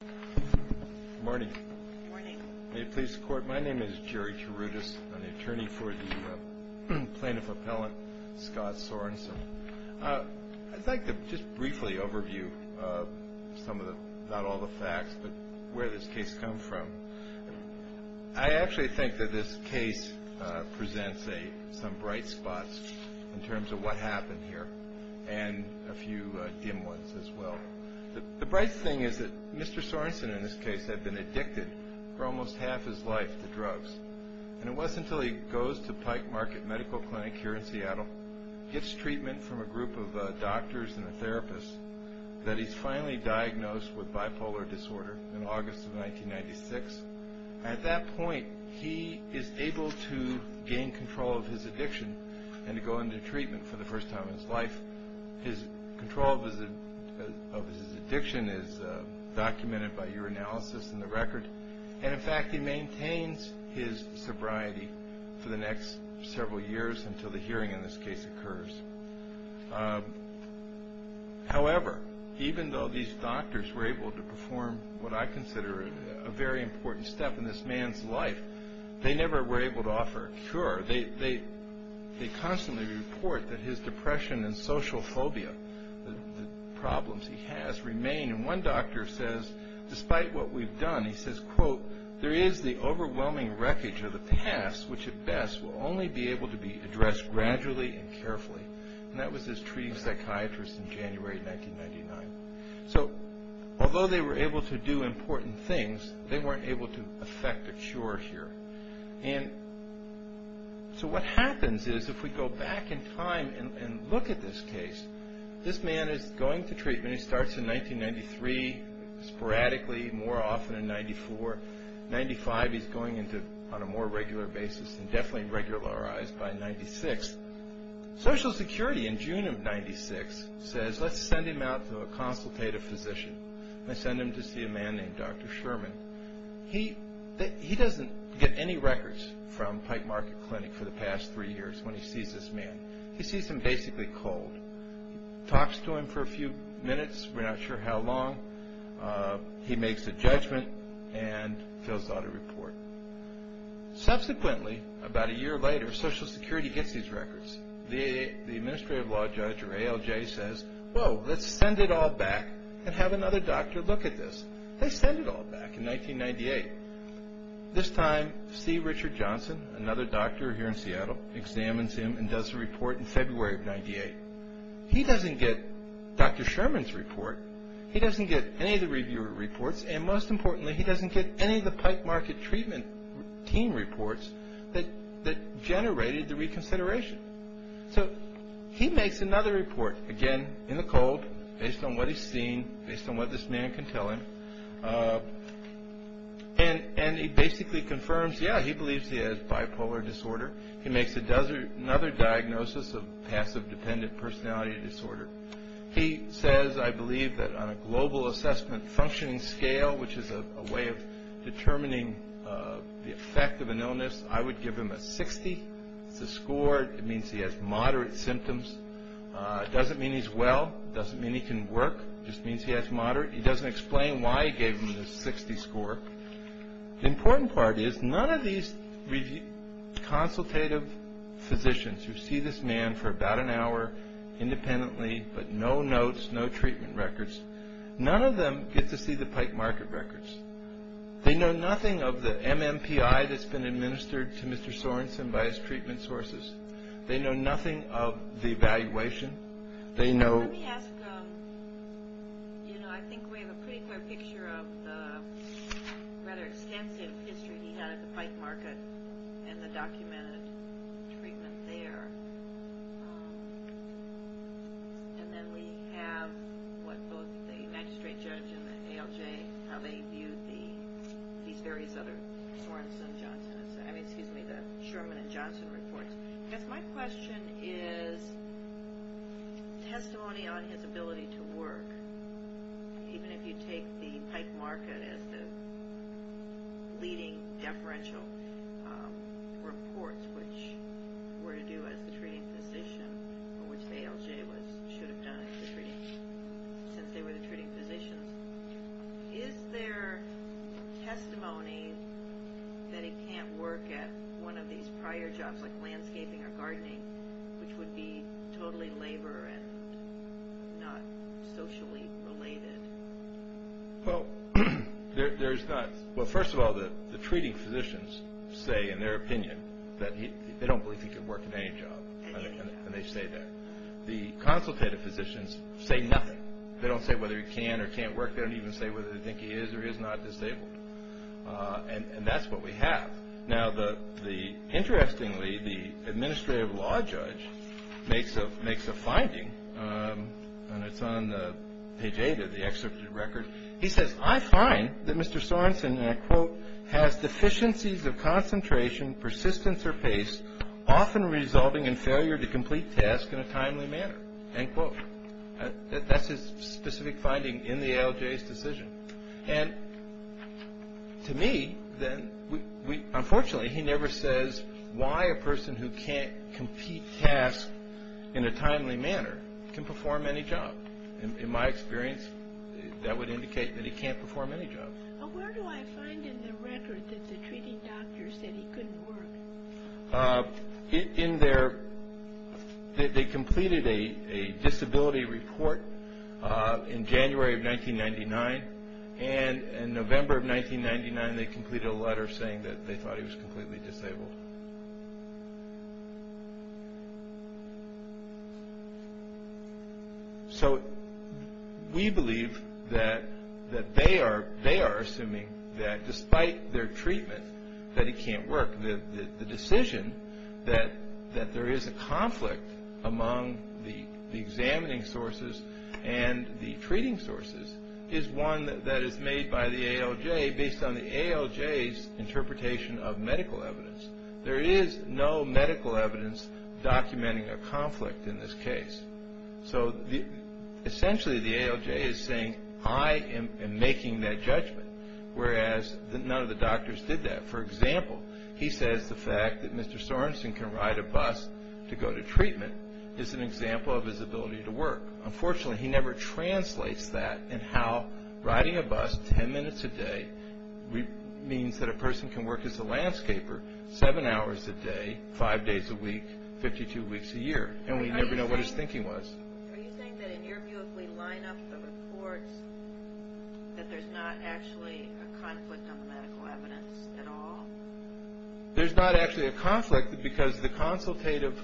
Good morning. Good morning. May it please the Court, my name is Jerry Tarutis. I'm the attorney for the plaintiff appellant, Scott Sorensen. I'd like to just briefly overview some of the, not all the facts, but where this case comes from. I actually think that this case presents some bright spots in terms of what happened here and a few dim ones as well. The bright thing is that Mr. Sorensen in this case had been addicted for almost half his life to drugs. And it wasn't until he goes to Pike Market Medical Clinic here in Seattle, gets treatment from a group of doctors and therapists, that he's finally diagnosed with bipolar disorder in August of 1996. At that point, he is able to gain control of his addiction and to go into treatment for the first time in his life. His control of his addiction is documented by your analysis in the record. And in fact, he maintains his sobriety for the next several years until the hearing in this case occurs. However, even though these doctors were able to perform what I consider a very important step in this man's life, they never were able to offer a cure. They constantly report that his depression and social phobia, the problems he has, remain. And one doctor says, despite what we've done, he says, quote, there is the overwhelming wreckage of the past which at best will only be able to be addressed gradually and carefully. And that was his treating psychiatrist in January 1999. So, although they were able to do important things, they weren't able to effect a cure here. And so what happens is if we go back in time and look at this case, this man is going to treatment. He starts in 1993 sporadically, more often in 94. In 95, he's going on a more regular basis and definitely regularized by 96. Social Security in June of 96 says, let's send him out to a consultative physician. They send him to see a man named Dr. Sherman. He doesn't get any records from Pike Market Clinic for the past three years when he sees this man. He sees him basically cold. He talks to him for a few minutes, we're not sure how long. He makes a judgment and fills out a report. Subsequently, about a year later, Social Security gets these records. The administrative law judge or ALJ says, whoa, let's send it all back and have another doctor look at this. They send it all back in 1998. This time, C. Richard Johnson, another doctor here in Seattle, examines him and does a report in February of 98. He doesn't get Dr. Sherman's report. He doesn't get any of the reviewer reports. And most importantly, he doesn't get any of the Pike Market treatment team reports that generated the reconsideration. So he makes another report, again, in the cold, based on what he's seen, based on what this man can tell him. And he basically confirms, yeah, he believes he has bipolar disorder. He makes another diagnosis of passive-dependent personality disorder. He says, I believe that on a global assessment functioning scale, which is a way of determining the effect of an illness, I would give him a 60. It's a score. It means he has moderate symptoms. It doesn't mean he's well. It doesn't mean he can work. It just means he has moderate. He doesn't explain why he gave him the 60 score. The important part is none of these consultative physicians who see this man for about an hour independently, but no notes, no treatment records, none of them get to see the Pike Market records. They know nothing of the MMPI that's been administered to Mr. Sorensen by his treatment sources. They know nothing of the evaluation. They know – Let me ask, you know, I think we have a pretty clear picture of the rather extensive history he had at the Pike Market and the documented treatment there. And then we have what both the magistrate judge and the ALJ, how they viewed these various other Sorensen-Johnson, I mean, excuse me, the Sherman and Johnson reports. I guess my question is testimony on his ability to work, even if you take the Pike Market as the leading deferential reports, which were to do as the treating physician, or which the ALJ should have done since they were the treating physicians. Is there testimony that he can't work at one of these prior jobs like landscaping or gardening, which would be totally labor and not socially related? Well, there's not – Well, first of all, the treating physicians say in their opinion that they don't believe he could work at any job, and they say that. The consultative physicians say nothing. They don't say whether he can or can't work. They don't even say whether they think he is or is not disabled. And that's what we have. Now, interestingly, the administrative law judge makes a finding, and it's on page 8 of the excerpt of the record. He says, I find that Mr. Sorensen, and I quote, has deficiencies of concentration, persistence, or pace, often resulting in failure to complete tasks in a timely manner, end quote. And to me, unfortunately, he never says why a person who can't complete tasks in a timely manner can perform any job. In my experience, that would indicate that he can't perform any job. Where do I find in the record that the treating doctors said he couldn't work? In their, they completed a disability report in January of 1999, and in November of 1999, they completed a letter saying that they thought he was completely disabled. So we believe that they are assuming that despite their treatment, that he can't work, the decision that there is a conflict among the examining sources and the treating sources is one that is made by the ALJ based on the ALJ's interpretation of medical evidence. There is no medical evidence documenting a conflict in this case. So essentially, the ALJ is saying, I am making that judgment, whereas none of the doctors did that. For example, he says the fact that Mr. Sorensen can ride a bus to go to treatment is an example of his ability to work. Unfortunately, he never translates that in how riding a bus 10 minutes a day means that a person can work as a landscaper seven hours a day, five days a week, 52 weeks a year. And we never know what his thinking was. Are you saying that in your view, if we line up the reports, that there's not actually a conflict on the medical evidence at all? There's not actually a conflict because the consultative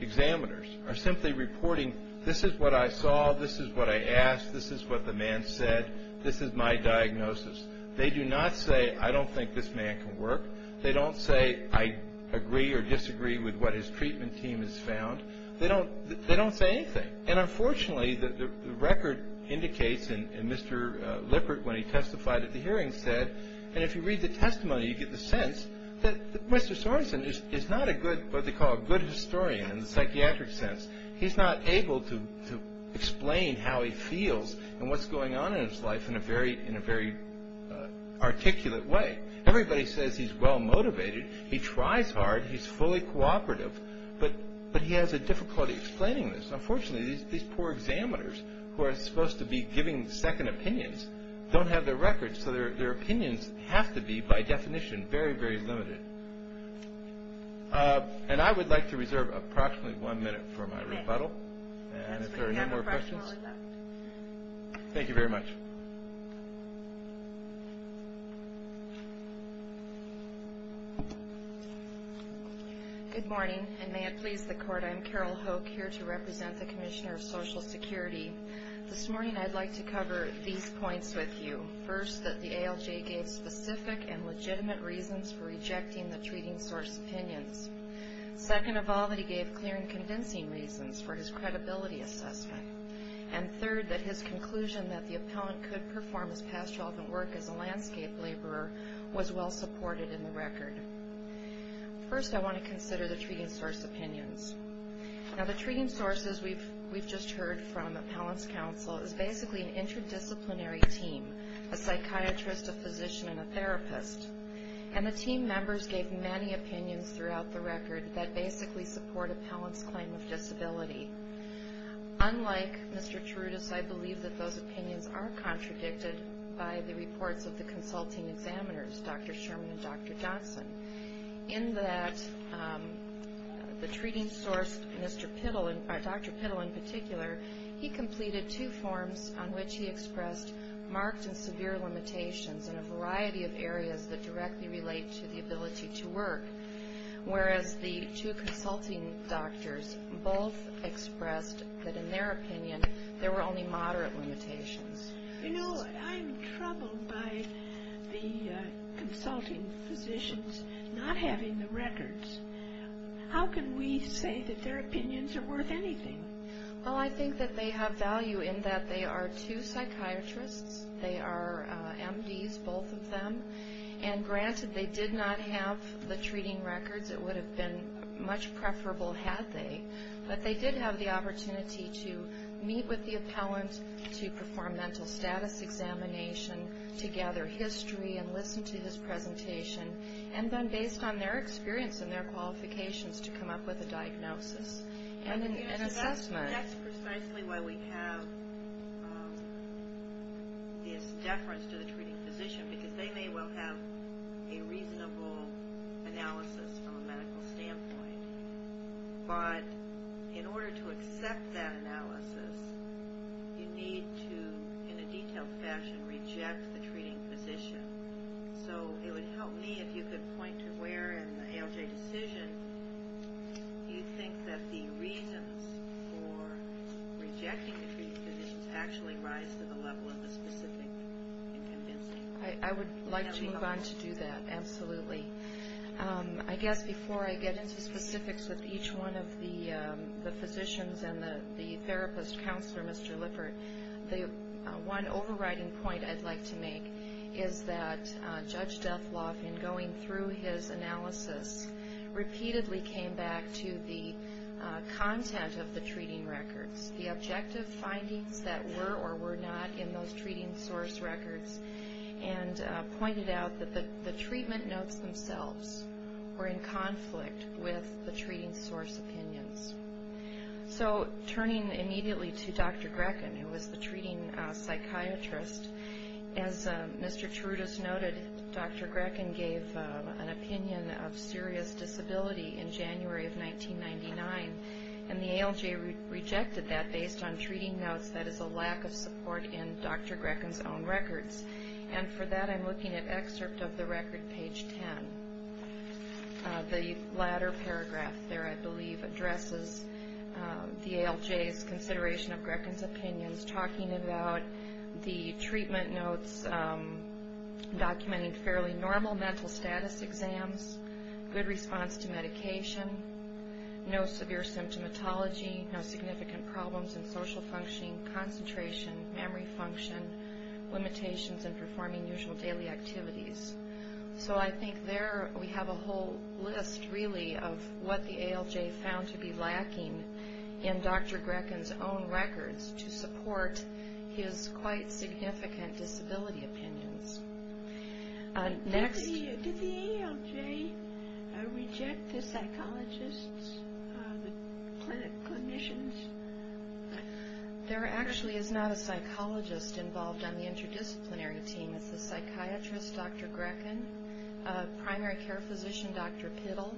examiners are simply reporting, this is what I saw, this is what I asked, this is what the man said, this is my diagnosis. They do not say, I don't think this man can work. They don't say, I agree or disagree with what his treatment team has found. They don't say anything. And unfortunately, the record indicates, and Mr. Lippert, when he testified at the hearing, said, and if you read the testimony, you get the sense that Mr. Sorensen is not a good, what they call a good historian in the psychiatric sense. He's not able to explain how he feels and what's going on in his life in a very articulate way. Everybody says he's well-motivated. He tries hard. He's fully cooperative. But he has a difficulty explaining this. Unfortunately, these poor examiners who are supposed to be giving second opinions don't have their records, so their opinions have to be, by definition, very, very limited. And I would like to reserve approximately one minute for my rebuttal. And if there are no more questions. Thank you very much. Good morning. And may it please the Court, I'm Carol Hoke, here to represent the Commissioner of Social Security. This morning I'd like to cover these points with you. First, that the ALJ gave specific and legitimate reasons for rejecting the treating source opinions. Second of all, that he gave clear and convincing reasons for his credibility assessment. And third, that his conclusion that the appellant could perform his past relevant work as a landscape laborer was well-supported in the record. First, I want to consider the treating source opinions. Now, the treating sources we've just heard from Appellants Council is basically an interdisciplinary team, a psychiatrist, a physician, and a therapist. And the team members gave many opinions throughout the record that basically support appellants' claim of disability. Unlike Mr. Terutis, I believe that those opinions are contradicted by the reports of the consulting examiners, Dr. Sherman and Dr. Johnson, in that the treating source, Dr. Pittle in particular, he completed two forms on which he expressed marked and severe limitations in a variety of areas that directly relate to the ability to work, whereas the two consulting doctors both expressed that in their opinion there were only moderate limitations. You know, I'm troubled by the consulting physicians not having the records. How can we say that their opinions are worth anything? Well, I think that they have value in that they are two psychiatrists. They are MDs, both of them. And granted, they did not have the treating records. It would have been much preferable had they. But they did have the opportunity to meet with the appellant, to perform mental status examination, to gather history and listen to his presentation, and then based on their experience and their qualifications to come up with a diagnosis. And an assessment. That's precisely why we have this deference to the treating physician, because they may well have a reasonable analysis from a medical standpoint. But in order to accept that analysis, you need to, in a detailed fashion, reject the treating physician. So it would help me if you could point to where in the ALJ decision you think that the reasons for rejecting the treating physicians actually rise to the level of the specific and convincing. I would like to move on to do that, absolutely. I guess before I get into specifics with each one of the physicians and the therapist, Counselor Mr. Lippert, the one overriding point I'd like to make is that Judge Dethloff, in going through his analysis, repeatedly came back to the content of the treating records, the objective findings that were or were not in those treating source records, and pointed out that the treatment notes themselves were in conflict with the treating source opinions. So turning immediately to Dr. Grechen, who was the treating psychiatrist, as Mr. Trudis noted, Dr. Grechen gave an opinion of serious disability in January of 1999, and the ALJ rejected that based on treating notes. That is a lack of support in Dr. Grechen's own records. And for that, I'm looking at excerpt of the record, page 10. The latter paragraph there, I believe, addresses the ALJ's consideration of Grechen's opinions, talking about the treatment notes documenting fairly normal mental status exams, good response to medication, no severe symptomatology, no significant problems in social functioning, concentration, memory function, limitations in performing usual daily activities. So I think there we have a whole list, really, of what the ALJ found to be lacking in Dr. Grechen's own records to support his quite significant disability opinions. Next. Did the ALJ reject the psychologists, the clinic clinicians? There actually is not a psychologist involved on the interdisciplinary team. It's a psychiatrist, Dr. Grechen, primary care physician, Dr. Pittle,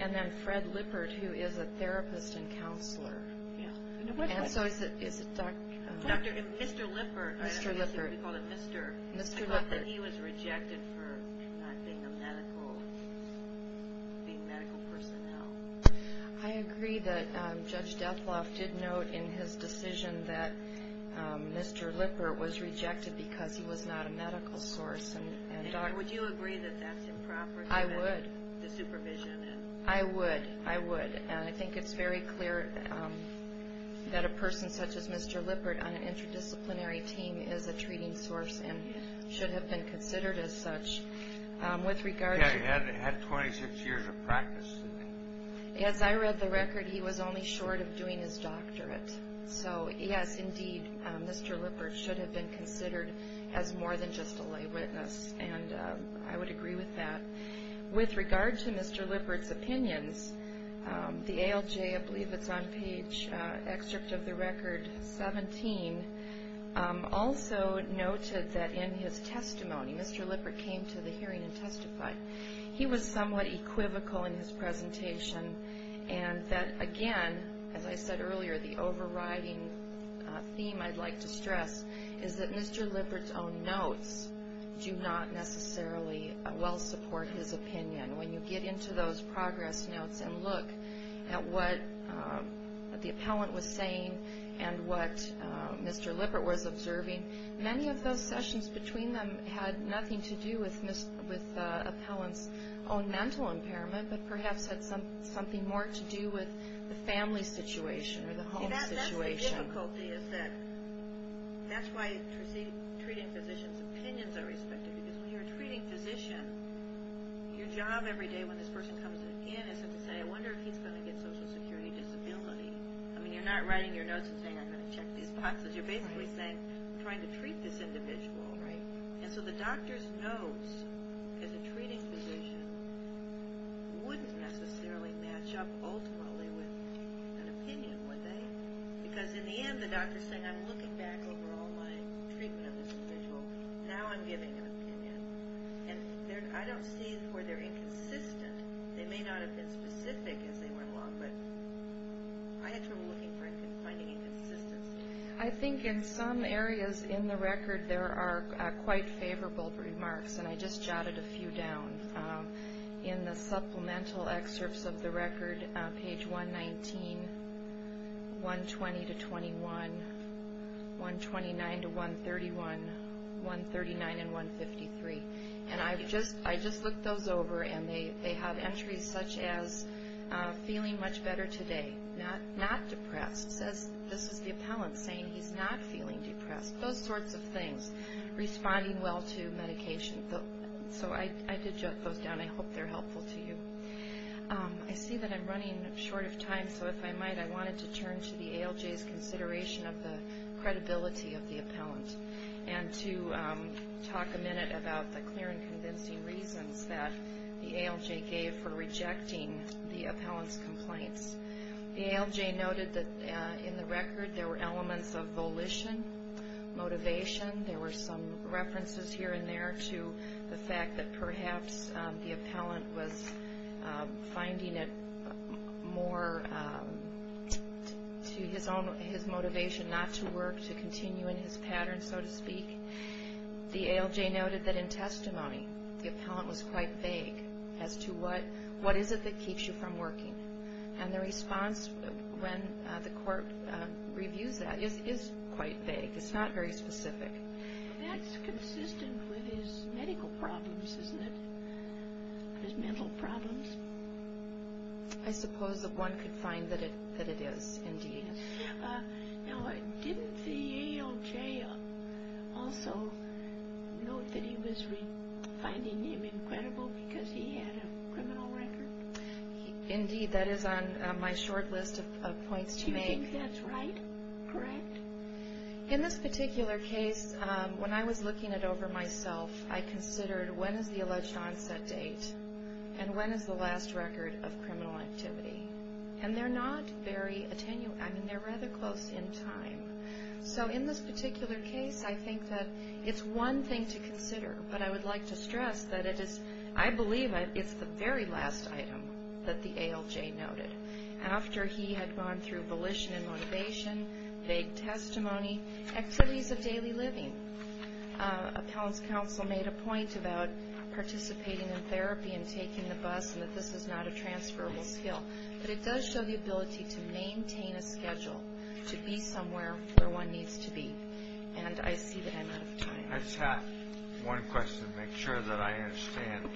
and then Fred Lippert, who is a therapist and counselor. And so is it Dr. Lippert? Mr. Lippert. We call him Mr. Lippert. He was rejected for not being a medical personnel. I agree that Judge Dethloff did note in his decision that Mr. Lippert was rejected because he was not a medical source and doctor. Would you agree that that's improper? I would. The supervision. I would. I would. And I think it's very clear that a person such as Mr. Lippert on an interdisciplinary team is a treating source and should have been considered as such. He had 26 years of practice. As I read the record, he was only short of doing his doctorate. So, yes, indeed, Mr. Lippert should have been considered as more than just a lay witness, and I would agree with that. With regard to Mr. Lippert's opinions, the ALJ, I believe it's on page, excerpt of the record 17, also noted that in his testimony, Mr. Lippert came to the hearing and testified. He was somewhat equivocal in his presentation and that, again, as I said earlier, the overriding theme I'd like to stress is that Mr. Lippert's own notes do not necessarily well support his opinion. When you get into those progress notes and look at what the appellant was saying and what Mr. Lippert was observing, many of those sessions between them had nothing to do with appellant's own mental impairment but perhaps had something more to do with the family situation or the home situation. That's the difficulty is that that's why treating physicians' opinions are respected because when you're a treating physician, your job every day when this person comes in is to say, I wonder if he's going to get social security disability. I mean, you're not writing your notes and saying, I'm going to check these boxes. You're basically saying, I'm trying to treat this individual. And so the doctor's notes as a treating physician wouldn't necessarily match up ultimately with an opinion, would they? Because in the end, the doctor's saying, I'm looking back over all my treatment of this individual. Now I'm giving an opinion. And I don't see where they're inconsistent. They may not have been specific as they went along, but I had trouble finding inconsistency. I think in some areas in the record there are quite favorable remarks, and I just jotted a few down. In the supplemental excerpts of the record, page 119, 120 to 21, 129 to 131, 139 and 153. And I just looked those over, and they have entries such as feeling much better today, not depressed. This is the appellant saying he's not feeling depressed. Those sorts of things. Responding well to medication. So I did jot those down. I hope they're helpful to you. I see that I'm running short of time, so if I might, I wanted to turn to the ALJ's consideration of the credibility of the appellant. And to talk a minute about the clear and convincing reasons that the ALJ gave for rejecting the appellant's complaints. The ALJ noted that in the record there were elements of volition, motivation. There were some references here and there to the fact that perhaps the appellant was finding it more to his motivation not to work, to continue in his pattern, so to speak. The ALJ noted that in testimony the appellant was quite vague as to what is it that keeps you from working. And the response when the court reviews that is quite vague. It's not very specific. That's consistent with his medical problems, isn't it? His mental problems. I suppose that one could find that it is, indeed. Now, didn't the ALJ also note that he was finding him incredible because he had a criminal record? Indeed. That is on my short list of points to make. Do you think that's right? Correct? In this particular case, when I was looking it over myself, I considered when is the alleged onset date, and when is the last record of criminal activity. And they're not very attenuate. I mean, they're rather close in time. So in this particular case, I think that it's one thing to consider. But I would like to stress that it is, I believe it's the very last item that the ALJ noted. After he had gone through volition and motivation, vague testimony, activities of daily living. Appellant's counsel made a point about participating in therapy and taking the bus, and that this is not a transferable skill. But it does show the ability to maintain a schedule, to be somewhere where one needs to be. And I see that I'm out of time. I just have one question to make sure that I understand.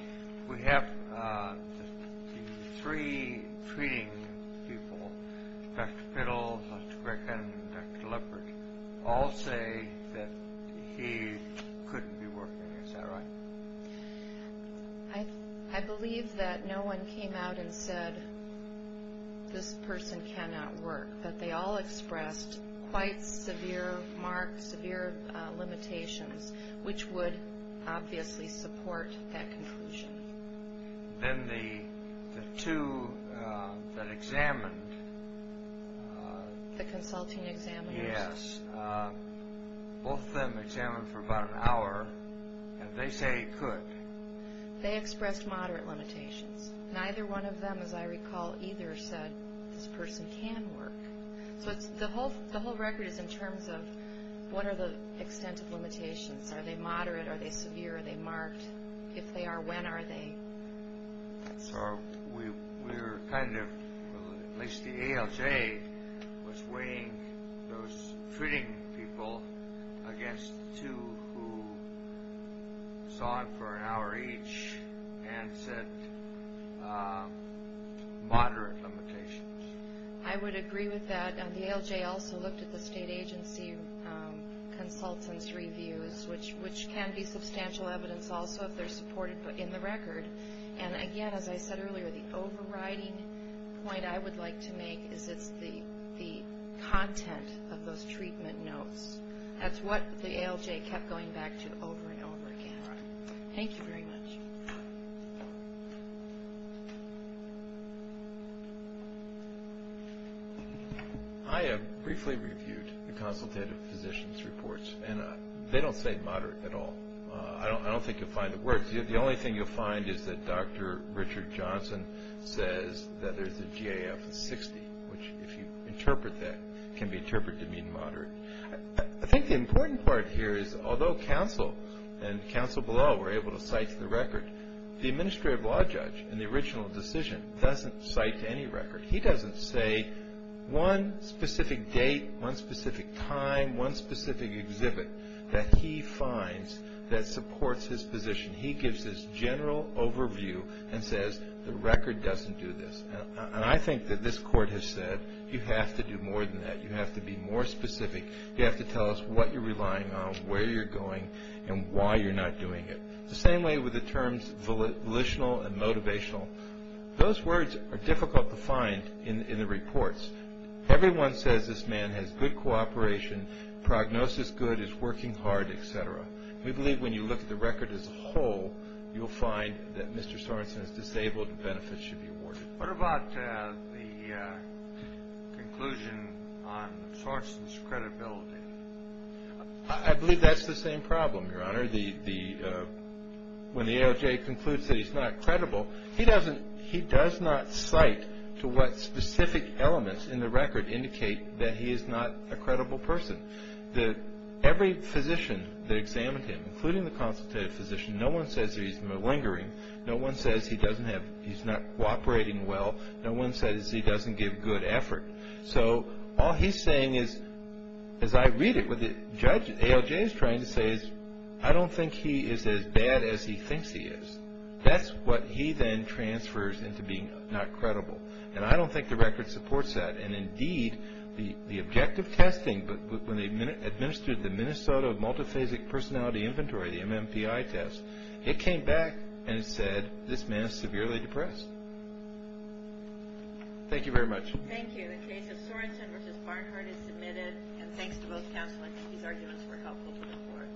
We have the three treating people, Dr. Fiddle, Dr. Grickin, and Dr. Lippert, all say that he couldn't be working. Is that right? I believe that no one came out and said, this person cannot work. But they all expressed quite severe limitations, which would obviously support that conclusion. Then the two that examined. The consulting examiners. Yes. Both of them examined for about an hour, and they say he could. They expressed moderate limitations. Neither one of them, as I recall, either said this person can work. So the whole record is in terms of what are the extent of limitations. Are they moderate? Are they severe? Are they marked? If they are, when are they? So we're kind of, at least the ALJ was weighing those treating people against two who saw him for an hour each and said moderate limitations. I would agree with that. The ALJ also looked at the state agency consultants' reviews, which can be substantial evidence also if they're supported in the record. And again, as I said earlier, the overriding point I would like to make is it's the content of those treatment notes. That's what the ALJ kept going back to over and over again. Thank you very much. I have briefly reviewed the consultative physicians' reports, and they don't say moderate at all. I don't think you'll find the words. The only thing you'll find is that Dr. Richard Johnson says that there's a GAF of 60, which if you interpret that, can be interpreted to mean moderate. I think the important part here is although counsel and counsel below were able to cite to the record, the administrative law judge in the original decision doesn't cite to any record. He doesn't say one specific date, one specific time, one specific exhibit that he finds that supports his position. He gives his general overview and says the record doesn't do this. And I think that this Court has said you have to do more than that. You have to be more specific. You have to tell us what you're relying on, where you're going, and why you're not doing it. The same way with the terms volitional and motivational. Those words are difficult to find in the reports. Everyone says this man has good cooperation, prognosis good, is working hard, et cetera. We believe when you look at the record as a whole, you'll find that Mr. Sorensen is disabled, and benefits should be awarded. What about the conclusion on Sorensen's credibility? I believe that's the same problem, Your Honor. When the ALJ concludes that he's not credible, he does not cite to what specific elements in the record indicate that he is not a credible person. Every physician that examined him, including the consultative physician, no one says that he's malingering. No one says he's not cooperating well. No one says he doesn't give good effort. All he's saying is, as I read it, what the ALJ is trying to say is, I don't think he is as bad as he thinks he is. That's what he then transfers into being not credible. I don't think the record supports that. Indeed, the objective testing, when they administered the Minnesota Multiphasic Personality Inventory, the MMPI test, it came back and said this man is severely depressed. Thank you very much. Thank you. The case of Sorensen v. Barnhart is submitted. And thanks to both counsel. I think these arguments were helpful to the court.